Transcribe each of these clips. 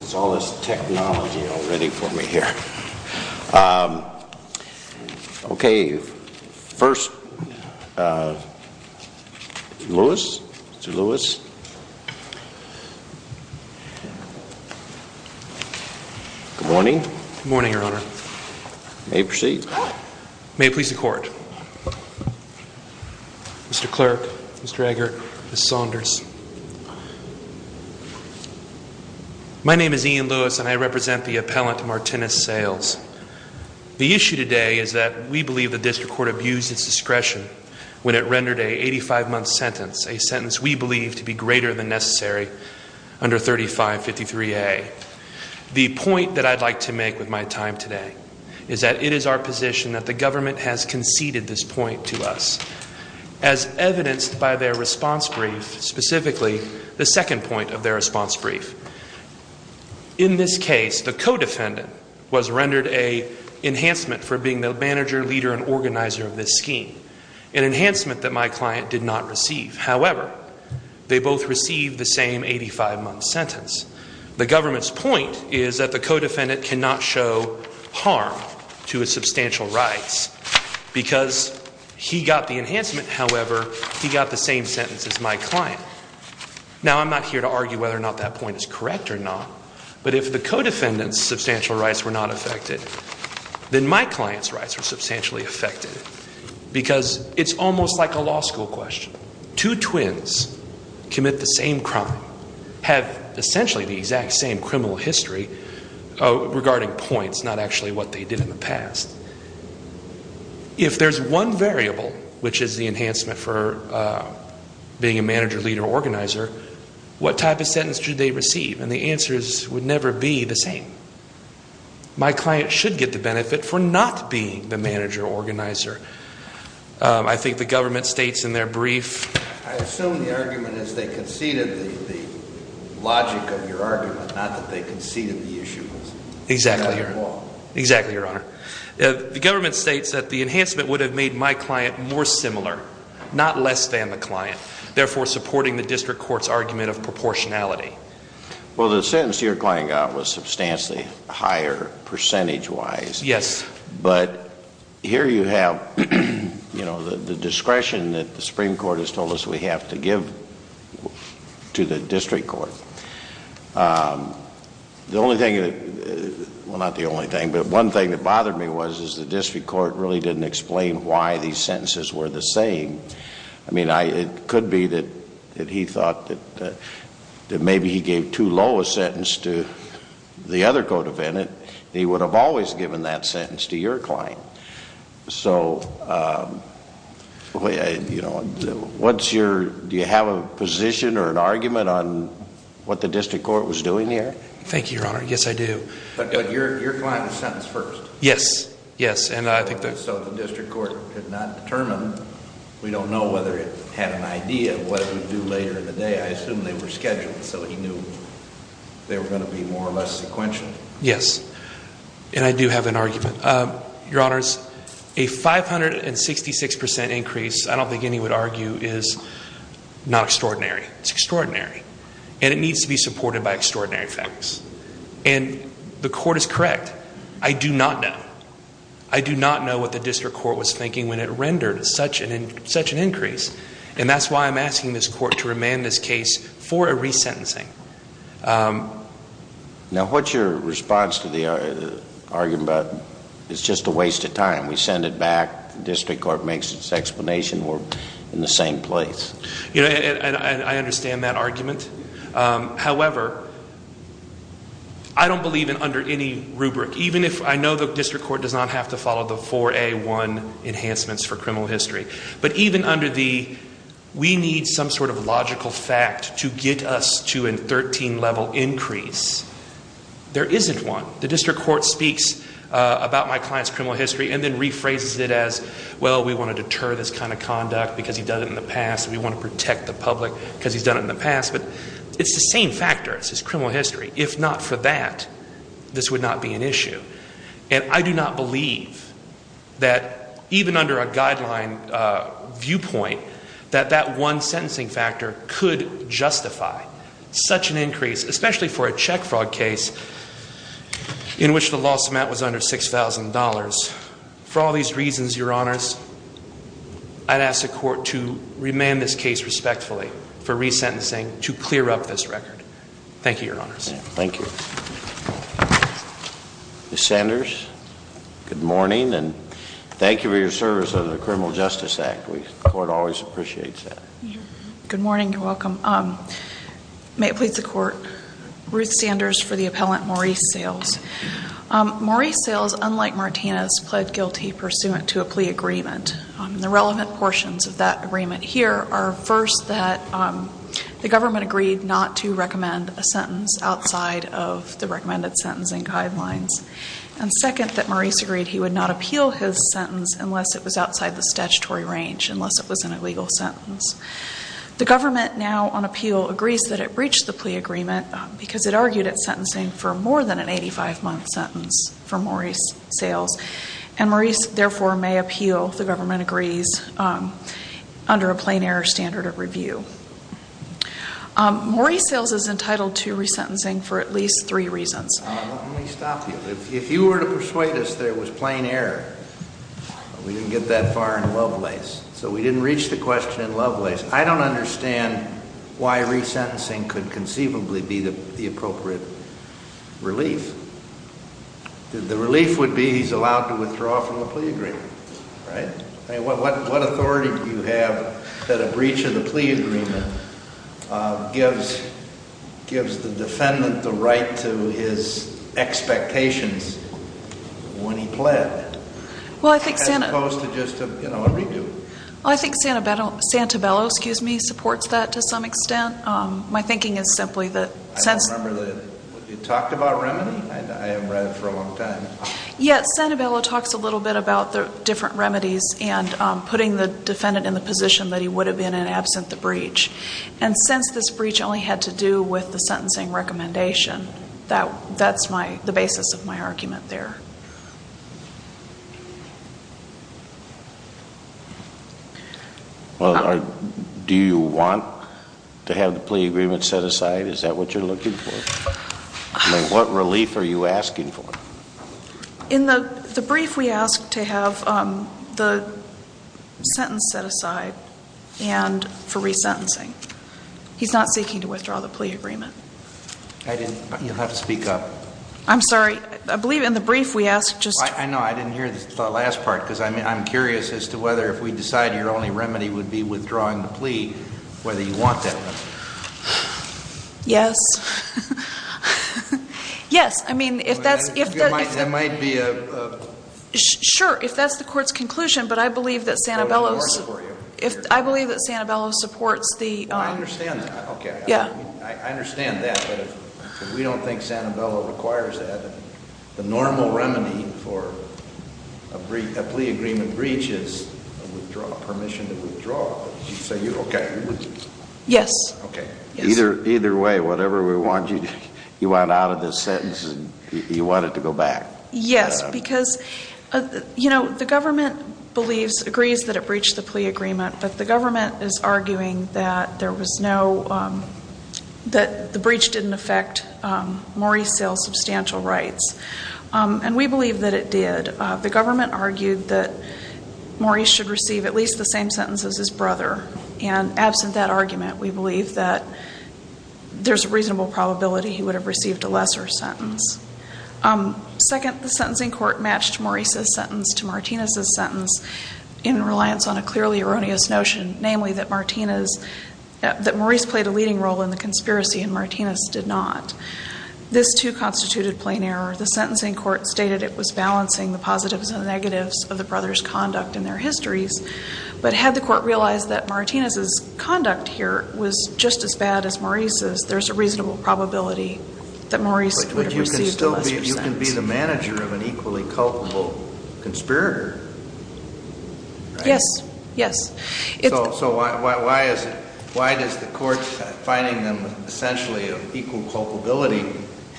There's all this technology all ready for me here. Okay, first, Lewis. Mr. Lewis. Good morning. Good morning, Your Honor. You may proceed. May it please the Court. Mr. Clerk, Mr. Eggert, Ms. Saunders. My name is Ian Lewis, and I represent the appellant, Martinez Sayles. The issue today is that we believe the district court abused its discretion when it rendered an 85-month sentence, a sentence we believe to be greater than necessary, under 3553A. The point that I'd like to make with my time today is that it is our position that the government has conceded this point to us. As evidenced by their response brief, specifically the second point of their response brief, in this case the co-defendant was rendered an enhancement for being the manager, leader, and organizer of this scheme, an enhancement that my client did not receive. However, they both received the same 85-month sentence. The government's point is that the co-defendant cannot show harm to his substantial rights because he got the enhancement, however, he got the same sentence as my client. Now, I'm not here to argue whether or not that point is correct or not, but if the co-defendant's substantial rights were not affected, then my client's rights were substantially affected because it's almost like a law school question. Two twins commit the same crime, have essentially the exact same criminal history regarding points, but it's not actually what they did in the past. If there's one variable, which is the enhancement for being a manager, leader, or organizer, what type of sentence should they receive? And the answer would never be the same. My client should get the benefit for not being the manager or organizer. I think the government states in their brief... ...logic of your argument, not that they conceded the issue. Exactly, Your Honor. Exactly, Your Honor. The government states that the enhancement would have made my client more similar, not less than the client, therefore supporting the district court's argument of proportionality. Well, the sentence your client got was substantially higher percentage-wise. Yes. But here you have, you know, the discretion that the Supreme Court has told us we have to give to the district court. The only thing that...well, not the only thing, but one thing that bothered me was is the district court really didn't explain why these sentences were the same. I mean, it could be that he thought that maybe he gave too low a sentence to the other co-defendant. He would have always given that sentence to your client. So, you know, what's your...do you have a position or an argument on what the district court was doing here? Thank you, Your Honor. Yes, I do. But your client was sentenced first. Yes. Yes, and I think that... So the district court could not determine. We don't know whether it had an idea of what it would do later in the day. I assume they were scheduled, so he knew they were going to be more or less sequential. Yes, and I do have an argument. Your Honors, a 566% increase, I don't think any would argue, is not extraordinary. It's extraordinary, and it needs to be supported by extraordinary facts. And the court is correct. I do not know. I do not know what the district court was thinking when it rendered such an increase. And that's why I'm asking this court to remand this case for a resentencing. Now, what's your response to the argument about it's just a waste of time? We send it back. The district court makes its explanation. We're in the same place. You know, and I understand that argument. However, I don't believe in under any rubric, even if I know the district court does not have to follow the 4A1 enhancements for criminal history. But even under the we need some sort of logical fact to get us to a 13-level increase, there isn't one. The district court speaks about my client's criminal history and then rephrases it as, well, we want to deter this kind of conduct because he's done it in the past. We want to protect the public because he's done it in the past. But it's the same factor. It's his criminal history. And I do not believe that even under a guideline viewpoint that that one sentencing factor could justify such an increase, especially for a check fraud case in which the loss amount was under $6,000. For all these reasons, Your Honors, I'd ask the court to remand this case respectfully for resentencing to clear up this record. Thank you, Your Honors. Thank you. Ms. Sanders, good morning and thank you for your service of the Criminal Justice Act. The court always appreciates that. Good morning. You're welcome. May it please the court. Ruth Sanders for the appellant, Maurice Sales. Maurice Sales, unlike Martinez, pled guilty pursuant to a plea agreement. The relevant portions of that agreement here are, first, that the government agreed not to recommend a sentence outside of the recommended sentencing guidelines. And, second, that Maurice agreed he would not appeal his sentence unless it was outside the statutory range, unless it was an illegal sentence. The government now on appeal agrees that it breached the plea agreement because it argued it sentencing for more than an 85-month sentence for Maurice Sales. And Maurice, therefore, may appeal, if the government agrees, under a plain error standard of review. Maurice Sales is entitled to resentencing for at least three reasons. Let me stop you. If you were to persuade us that it was plain error, we didn't get that far in Lovelace. So we didn't reach the question in Lovelace. I don't understand why resentencing could conceivably be the appropriate relief. The relief would be he's allowed to withdraw from the plea agreement, right? I mean, what authority do you have that a breach of the plea agreement gives the defendant the right to his expectations when he pled? As opposed to just a, you know, a redo? Well, I think Santabello supports that to some extent. My thinking is simply that since— I don't remember that you talked about remedy. I haven't read it for a long time. Yeah, Santabello talks a little bit about the different remedies and putting the defendant in the position that he would have been in absent the breach. And since this breach only had to do with the sentencing recommendation, that's the basis of my argument there. Well, do you want to have the plea agreement set aside? Is that what you're looking for? I mean, what relief are you asking for? In the brief, we ask to have the sentence set aside for resentencing. He's not seeking to withdraw the plea agreement. I didn't—you'll have to speak up. I'm sorry. I believe in the brief we asked just— I know. I didn't hear the last part because I'm curious as to whether if we decide your only remedy would be withdrawing the plea, whether you want that remedy. Yes. Yes. I mean, if that's— There might be a— Sure, if that's the court's conclusion. But I believe that Santabello's— I believe that Santabello supports the— I understand that. Okay. Yeah. A plea agreement breach is a withdrawal—permission to withdraw. So you—okay. Yes. Okay. Either way, whatever we want, you want out of this sentence and you want it to go back. Yes, because, you know, the government believes—agrees that it breached the plea agreement, but the government is arguing that there was no—that the breach didn't affect Maurice Sale's substantial rights. And we believe that it did. The government argued that Maurice should receive at least the same sentence as his brother. And absent that argument, we believe that there's a reasonable probability he would have received a lesser sentence. Second, the sentencing court matched Maurice's sentence to Martinez's sentence in reliance on a clearly erroneous notion, namely that Martinez—that Maurice played a leading role in the conspiracy and Martinez did not. This, too, constituted plain error. The sentencing court stated it was balancing the positives and negatives of the brothers' conduct in their histories. But had the court realized that Martinez's conduct here was just as bad as Maurice's, there's a reasonable probability that Maurice would have received a lesser sentence. But you can still be—you can be the manager of an equally culpable conspirator, right? Yes. Yes. So why is it—why does the court finding them essentially of equal culpability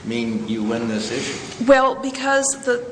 mean you win this issue? Well, because the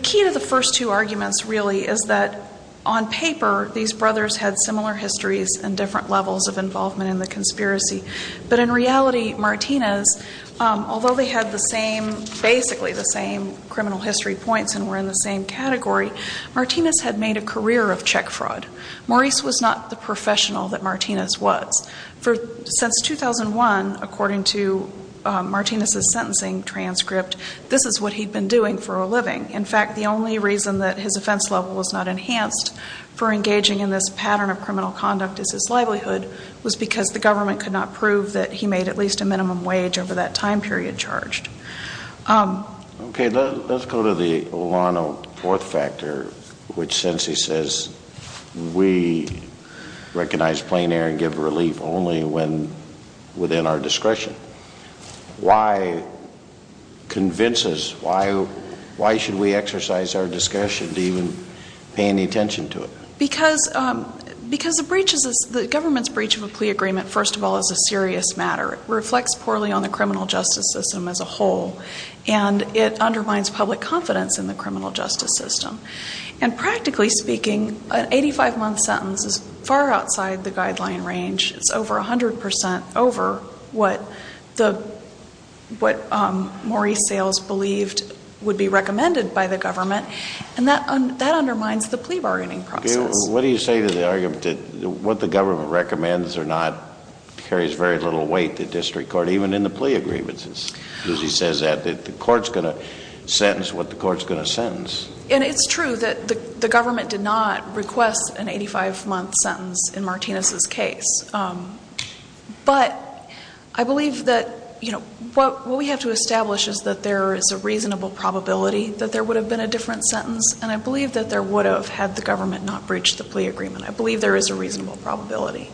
key to the first two arguments really is that on paper, these brothers had similar histories and different levels of involvement in the conspiracy. But in reality, Martinez, although they had the same—basically the same criminal history points and were in the same category, Martinez had made a career of check fraud. Maurice was not the professional that Martinez was. For—since 2001, according to Martinez's sentencing transcript, this is what he'd been doing for a living. In fact, the only reason that his offense level was not enhanced for engaging in this pattern of criminal conduct as his livelihood was because the government could not prove that he made at least a minimum wage over that time period charged. Okay. Let's go to the Olano fourth factor, which since he says we recognize plain error and give relief only when within our discretion. Why convince us? Why should we exercise our discretion to even pay any attention to it? Because the breach is—the government's breach of a plea agreement, first of all, is a serious matter. It reflects poorly on the criminal justice system as a whole, and it undermines public confidence in the criminal justice system. And practically speaking, an 85-month sentence is far outside the guideline range. It's over 100 percent over what the—what Maurice Sayles believed would be recommended by the government, and that undermines the plea bargaining process. Okay. What do you say to the argument that what the government recommends or not carries very little weight to district court, even in the plea agreements, as he says that, that the court's going to sentence what the court's going to sentence? And it's true that the government did not request an 85-month sentence in Martinez's case. But I believe that, you know, what we have to establish is that there is a reasonable probability that there would have been a different sentence, and I believe that there would have had the government not breached the plea agreement. I believe there is a reasonable probability.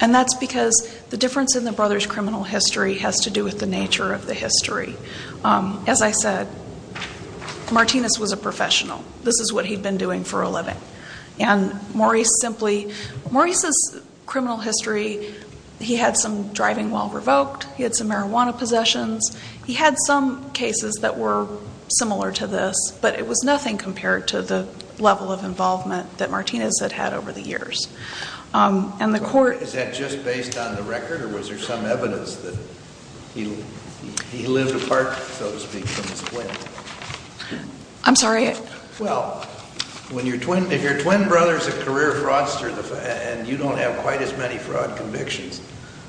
And that's because the difference in the brothers' criminal history has to do with the nature of the history. As I said, Martinez was a professional. This is what he'd been doing for a living. And Maurice simply—Maurice's criminal history, he had some driving while revoked. He had some marijuana possessions. He had some cases that were similar to this, but it was nothing compared to the level of involvement that Martinez had had over the years. And the court— Is that just based on the record, or was there some evidence that he lived apart, so to speak, from his twin? I'm sorry? Well, if your twin brother is a career fraudster and you don't have quite as many fraud convictions,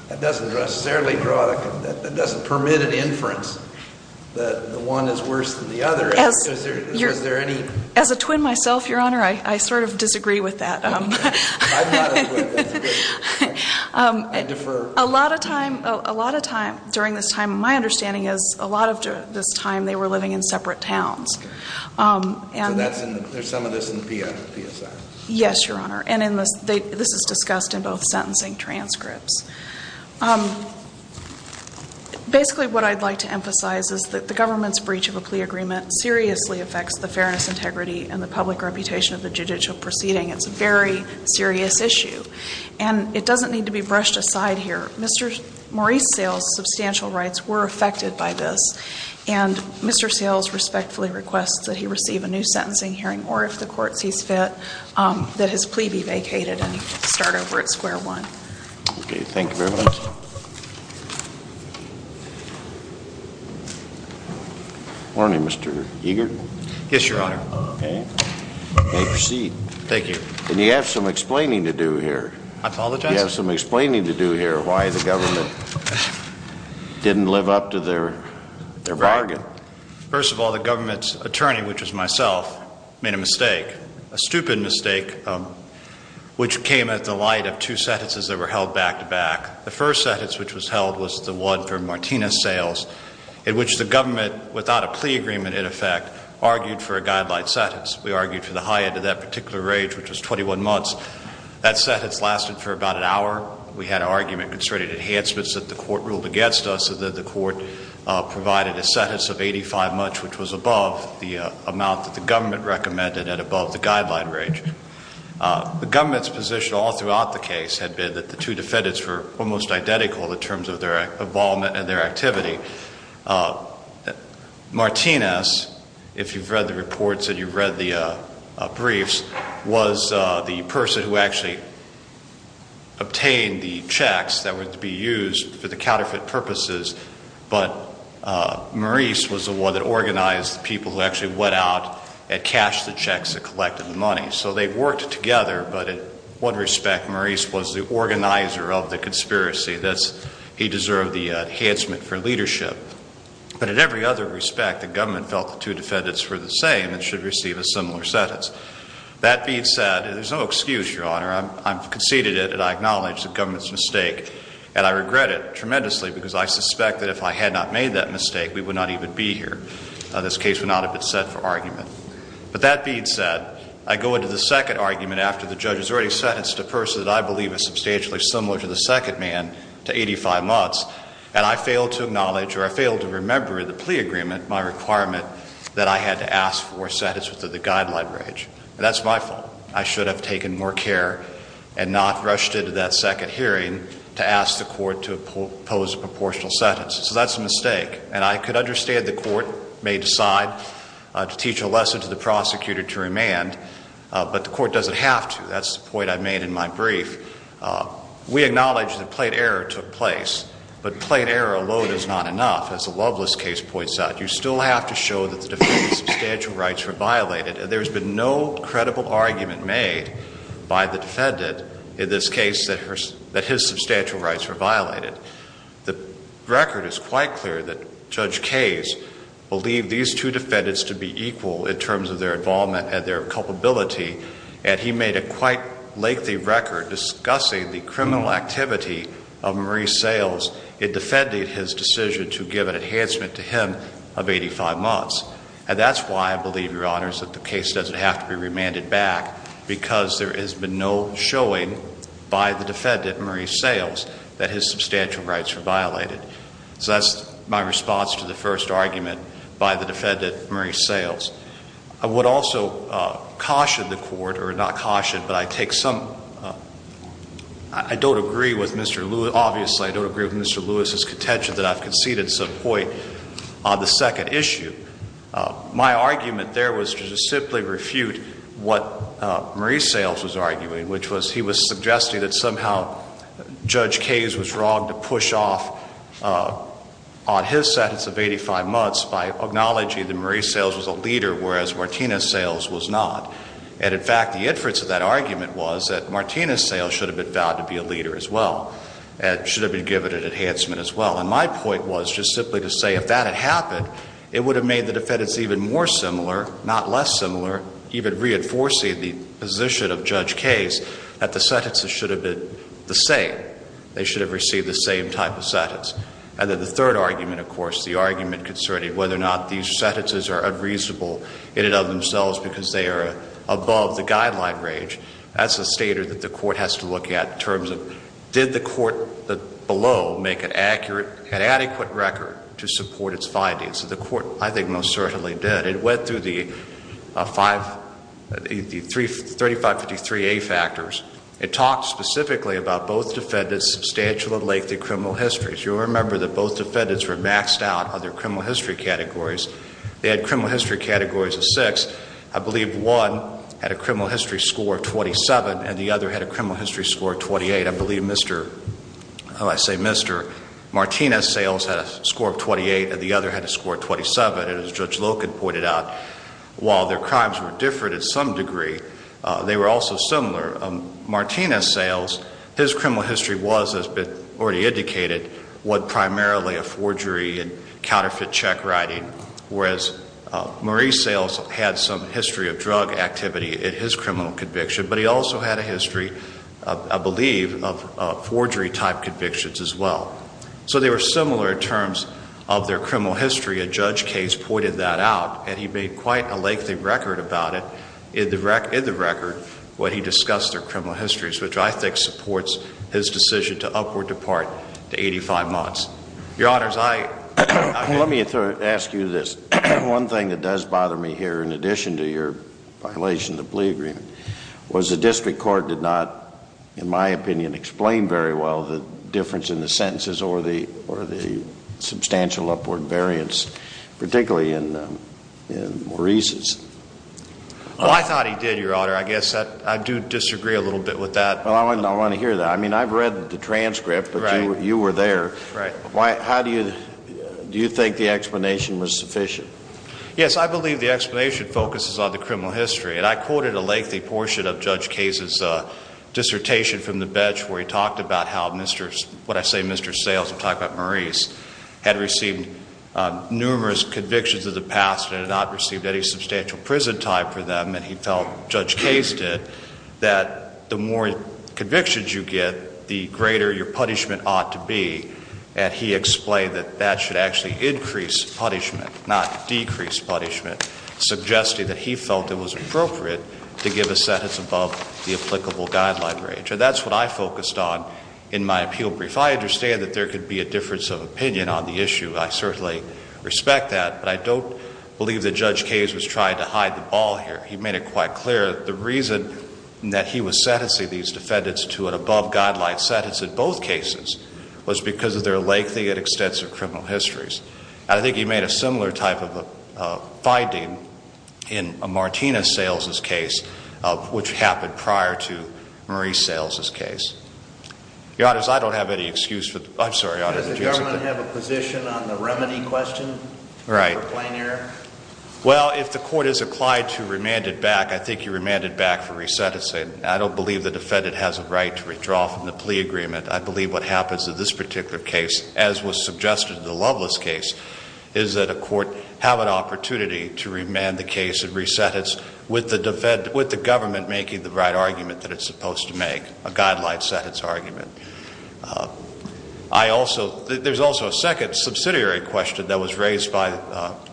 that doesn't necessarily draw—that doesn't permit an inference that one is worse than the other. As a twin myself, Your Honor, I sort of disagree with that. I'm not a twin. I defer. A lot of time during this time, my understanding is a lot of this time they were living in separate towns. So that's in—there's some of this in the PSI. Yes, Your Honor. And this is discussed in both sentencing transcripts. Basically what I'd like to emphasize is that the government's breach of a plea agreement seriously affects the fairness, integrity, and the public reputation of the judicial proceeding. It's a very serious issue. And it doesn't need to be brushed aside here. Mr. Maurice Sales' substantial rights were affected by this, and Mr. Sales respectfully requests that he receive a new sentencing hearing, or if the court sees fit, that his plea be vacated and start over at square one. Okay. Thank you very much. Morning, Mr. Eagerton. Yes, Your Honor. Okay. You may proceed. Thank you. And you have some explaining to do here. I apologize? You have some explaining to do here why the government didn't live up to their bargain. First of all, the government's attorney, which was myself, made a mistake, a stupid mistake, which came at the light of two sentences that were held back-to-back. The first sentence which was held was the one for Martinez-Sales, in which the government, without a plea agreement in effect, argued for a guideline sentence. We argued for the high end of that particular range, which was 21 months. That sentence lasted for about an hour. We had an argument concerning enhancements that the court ruled against us, so that the court provided a sentence of 85 months, which was above the amount that the government recommended and above the guideline range. The government's position all throughout the case had been that the two defendants were almost identical in terms of their involvement and their activity. Martinez, if you've read the reports and you've read the briefs, was the person who actually obtained the checks that were to be used for the counterfeit purposes, but Maurice was the one that organized the people who actually went out and cashed the checks and collected the money. So they worked together, but in one respect, Maurice was the organizer of the conspiracy. He deserved the enhancement for leadership. But in every other respect, the government felt the two defendants were the same and should receive a similar sentence. That being said, there's no excuse, Your Honor. I've conceded it and I acknowledge the government's mistake, and I regret it tremendously because I suspect that if I had not made that mistake, we would not even be here. This case would not have been set for argument. But that being said, I go into the second argument after the judge has already sentenced a person that I believe is substantially similar to the second man to 85 months, and I fail to acknowledge or I fail to remember the plea agreement, my requirement that I had to ask for a sentence within the guideline range. That's my fault. I should have taken more care and not rushed into that second hearing to ask the court to oppose a proportional sentence. So that's a mistake, and I could understand the court may decide to teach a lesson to the prosecutor to remand, but the court doesn't have to. That's the point I made in my brief. We acknowledge that plate error took place, but plate error alone is not enough. As the Loveless case points out, you still have to show that the defendant's substantial rights were violated. There's been no credible argument made by the defendant in this case that his substantial rights were violated. The record is quite clear that Judge Case believed these two defendants to be equal in terms of their involvement and their culpability, and he made a quite lengthy record discussing the criminal activity of Maurice Sayles in defending his decision to give an enhancement to him of 85 months. And that's why I believe, Your Honors, that the case doesn't have to be remanded back because there has been no showing by the defendant, Maurice Sayles, that his substantial rights were violated. So that's my response to the first argument by the defendant, Maurice Sayles. I would also caution the court, or not caution, but I take some – I don't agree with Mr. Lewis. Obviously, I don't agree with Mr. Lewis's contention that I've conceded some point on the second issue. My argument there was to just simply refute what Maurice Sayles was arguing, which was he was suggesting that somehow Judge Case was wrong to push off on his sentence of 85 months by acknowledging that Maurice Sayles was a leader, whereas Martina Sayles was not. And, in fact, the inference of that argument was that Martina Sayles should have been found to be a leader as well and should have been given an enhancement as well. And my point was just simply to say if that had happened, it would have made the defendants even more similar, not less similar, even reinforcing the position of Judge Case that the sentences should have been the same. They should have received the same type of sentence. And then the third argument, of course, the argument concerning whether or not these sentences are unreasonable in and of themselves because they are above the guideline range, that's a stator that the court has to look at in terms of did the court below make an adequate record to support its findings. The court, I think, most certainly did. It went through the 3553A factors. It talked specifically about both defendants' substantial and lengthy criminal histories. You'll remember that both defendants were maxed out on their criminal history categories. They had criminal history categories of six. I believe one had a criminal history score of 27 and the other had a criminal history score of 28. I believe Mr. Martina Sayles had a score of 28 and the other had a score of 27. And as Judge Loken pointed out, while their crimes were different in some degree, they were also similar. Martina Sayles, his criminal history was, as has been already indicated, was primarily a forgery and counterfeit check writing, whereas Maurice Sayles had some history of drug activity in his criminal conviction, but he also had a history, I believe, of forgery-type convictions as well. So they were similar in terms of their criminal history. A judge case pointed that out, and he made quite a lengthy record about it in the record when he discussed their criminal histories, which I think supports his decision to upward depart to 85 months. Let me ask you this. One thing that does bother me here, in addition to your violation of the plea agreement, was the district court did not, in my opinion, explain very well the difference in the sentences or the substantial upward variance, particularly in Maurice's. Well, I thought he did, Your Honor. I guess I do disagree a little bit with that. Well, I want to hear that. I mean, I've read the transcript, but you were there. Right. Do you think the explanation was sufficient? Yes, I believe the explanation focuses on the criminal history, and I quoted a lengthy portion of Judge Case's dissertation from the bench where he talked about how what I say Mr. Sayles, I'm talking about Maurice, had received numerous convictions of the past and had not received any substantial prison time for them, and he felt, Judge Case did, that the more convictions you get, the greater your punishment ought to be, and he explained that that should actually increase punishment, not decrease punishment, suggesting that he felt it was appropriate to give a sentence above the applicable guideline range, and that's what I focused on in my appeal brief. I understand that there could be a difference of opinion on the issue. I certainly respect that, but I don't believe that Judge Case was trying to hide the ball here. He made it quite clear that the reason that he was sentencing these defendants to an above-guideline sentence in both cases was because of their lengthy and extensive criminal histories, and I think he made a similar type of finding in a Martina Sayles' case, which happened prior to Maurice Sayles' case. Your Honors, I don't have any excuse for, I'm sorry, Your Honor. Does the government have a position on the remedy question? Right. Well, if the court has applied to remand it back, I think you remand it back for re-sentencing. I don't believe the defendant has a right to withdraw from the plea agreement. I believe what happens in this particular case, as was suggested in the Lovelace case, is that a court have an opportunity to remand the case and re-sentence with the government making the right argument that it's supposed to make, a guideline sentence argument. I also, there's also a second subsidiary question that was raised by.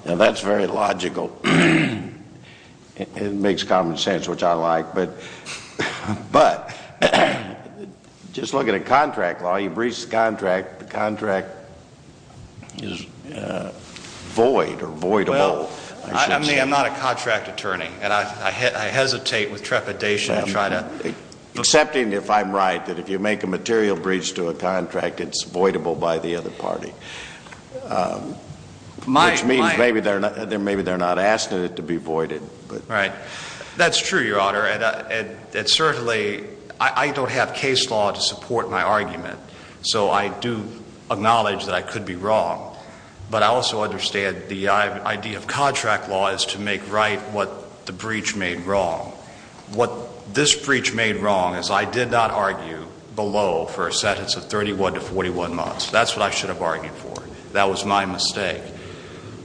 That's very logical. It makes common sense, which I like, but just look at a contract law. You've reached the contract. The contract is void or voidable. Well, I mean, I'm not a contract attorney, and I hesitate with trepidation to try to. Excepting if I'm right, that if you make a material breach to a contract, it's voidable by the other party. Which means maybe they're not asking it to be voided. Right. That's true, Your Honor, and certainly I don't have case law to support my argument, so I do acknowledge that I could be wrong, but I also understand the idea of contract law is to make right what the breach made wrong. What this breach made wrong is I did not argue below for a sentence of 31 to 41 months. That's what I should have argued for. That was my mistake.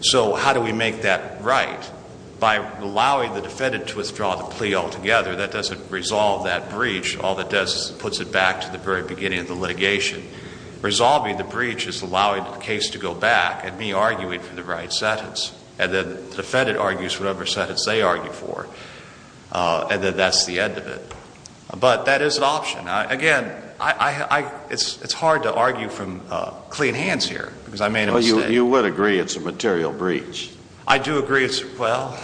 So how do we make that right? By allowing the defendant to withdraw the plea altogether, that doesn't resolve that breach. All that does is it puts it back to the very beginning of the litigation. Resolving the breach is allowing the case to go back and me arguing for the right sentence, and then the defendant argues whatever sentence they argue for, and then that's the end of it. But that is an option. Again, it's hard to argue from clean hands here because I made a mistake. You would agree it's a material breach. I do agree. Well,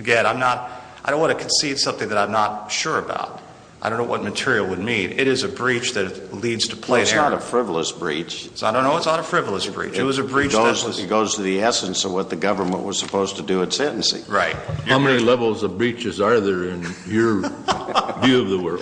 again, I don't want to concede something that I'm not sure about. I don't know what material would mean. It is a breach that leads to plain error. Well, it's not a frivolous breach. I don't know. It's not a frivolous breach. It was a breach that was It goes to the essence of what the government was supposed to do at sentencing. Right. How many levels of breaches are there in your view of the work?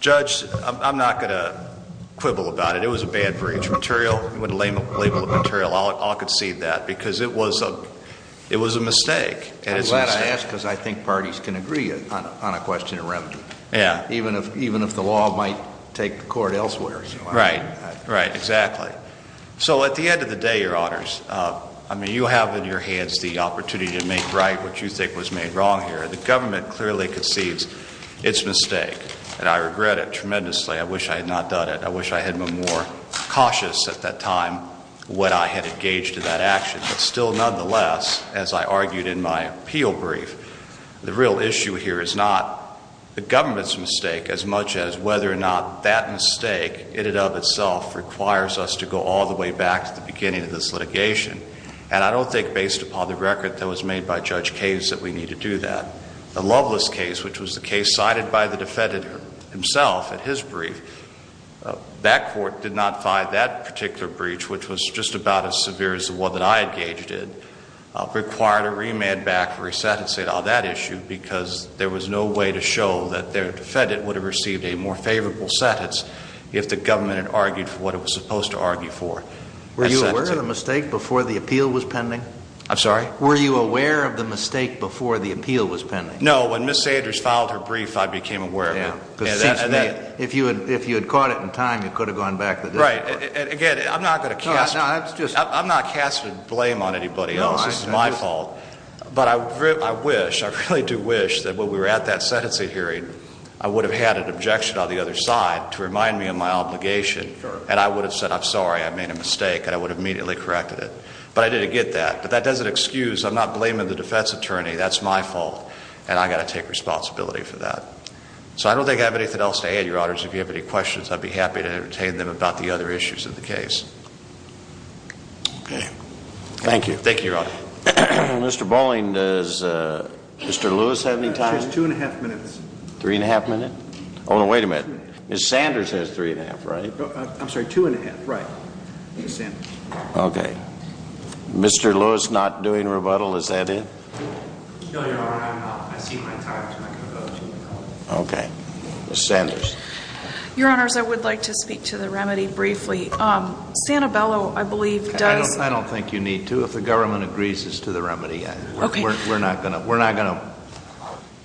Judge, I'm not going to quibble about it. It was a bad breach. Material, with the label of material, I'll concede that because it was a mistake. I'm glad I asked because I think parties can agree on a question of remedy. Yeah. Even if the law might take the court elsewhere. Right. Right, exactly. So at the end of the day, Your Honors, I mean, you have in your hands the opportunity to make right what you think was made wrong here. The government clearly conceives its mistake, and I regret it tremendously. I wish I had not done it. I wish I had been more cautious at that time when I had engaged in that action. But still, nonetheless, as I argued in my appeal brief, the real issue here is not the government's mistake as much as whether or not that mistake in and of itself requires us to go all the way back to the beginning of this litigation. And I don't think based upon the record that was made by Judge Case that we need to do that. The Loveless case, which was the case cited by the defendant himself in his brief, that court did not find that particular breach, which was just about as severe as the one that I engaged in, required a remand back for a sentencing on that issue because there was no way to show that the defendant would have received a more favorable sentence if the government had argued for what it was supposed to argue for. Were you aware of the mistake before the appeal was pending? I'm sorry? Were you aware of the mistake before the appeal was pending? No. When Ms. Sanders filed her brief, I became aware of it. Because it seems to me if you had caught it in time, you could have gone back to the district court. Right. Again, I'm not going to cast blame on anybody else. This is my fault. But I wish, I really do wish that when we were at that sentencing hearing, I would have had an objection on the other side to remind me of my obligation, and I would have said I'm sorry, I made a mistake, and I would have immediately corrected it. But I didn't get that. But that doesn't excuse I'm not blaming the defense attorney. That's my fault. And I've got to take responsibility for that. So I don't think I have anything else to add, Your Honors. If you have any questions, I'd be happy to entertain them about the other issues of the case. Okay. Thank you. Thank you, Your Honor. Mr. Bowling, does Mr. Lewis have any time? He has two and a half minutes. Three and a half minutes? Oh, wait a minute. Ms. Sanders has three and a half, right? I'm sorry, two and a half, right. Ms. Sanders. Okay. Mr. Lewis not doing rebuttal, is that it? No, Your Honor, I'm not. I see my time, so I can vote. Okay. Ms. Sanders. Your Honors, I would like to speak to the remedy briefly. Santabello, I believe, does – I don't think you need to. If the government agrees as to the remedy, we're not going to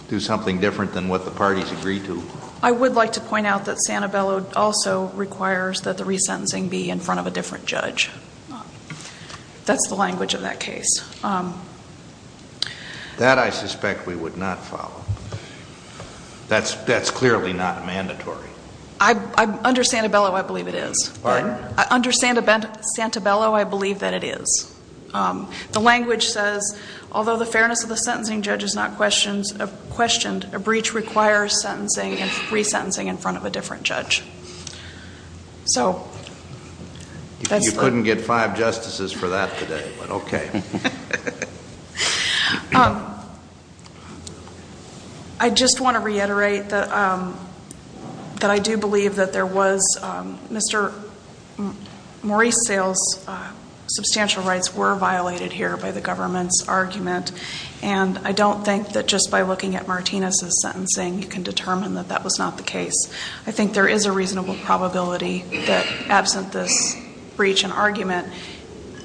do something different than what the parties agree to. I would like to point out that Santabello also requires that the resentencing be in front of a different judge. That's the language of that case. That, I suspect, we would not follow. That's clearly not mandatory. Under Santabello, I believe it is. Pardon? Under Santabello, I believe that it is. The language says, although the fairness of the sentencing judge is not questioned, a breach requires sentencing and resentencing in front of a different judge. You couldn't get five justices for that today, but okay. I just want to reiterate that I do believe that there was – Mr. Maurice Sale's substantial rights were violated here by the government's argument, and I don't think that just by looking at Martinez's sentencing you can determine that that was not the case. I think there is a reasonable probability that, absent this breach and argument,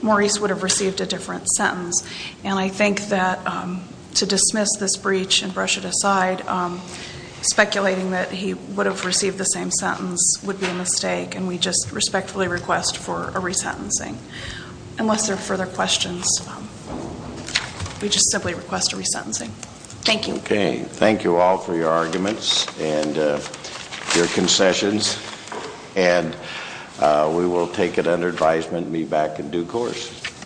Maurice would have received a different sentence. And I think that to dismiss this breach and brush it aside, speculating that he would have received the same sentence would be a mistake, and we just respectfully request for a resentencing. Unless there are further questions, we just simply request a resentencing. Thank you. Okay. Thank you all for your arguments and your concessions, and we will take it under advisement and be back in due course.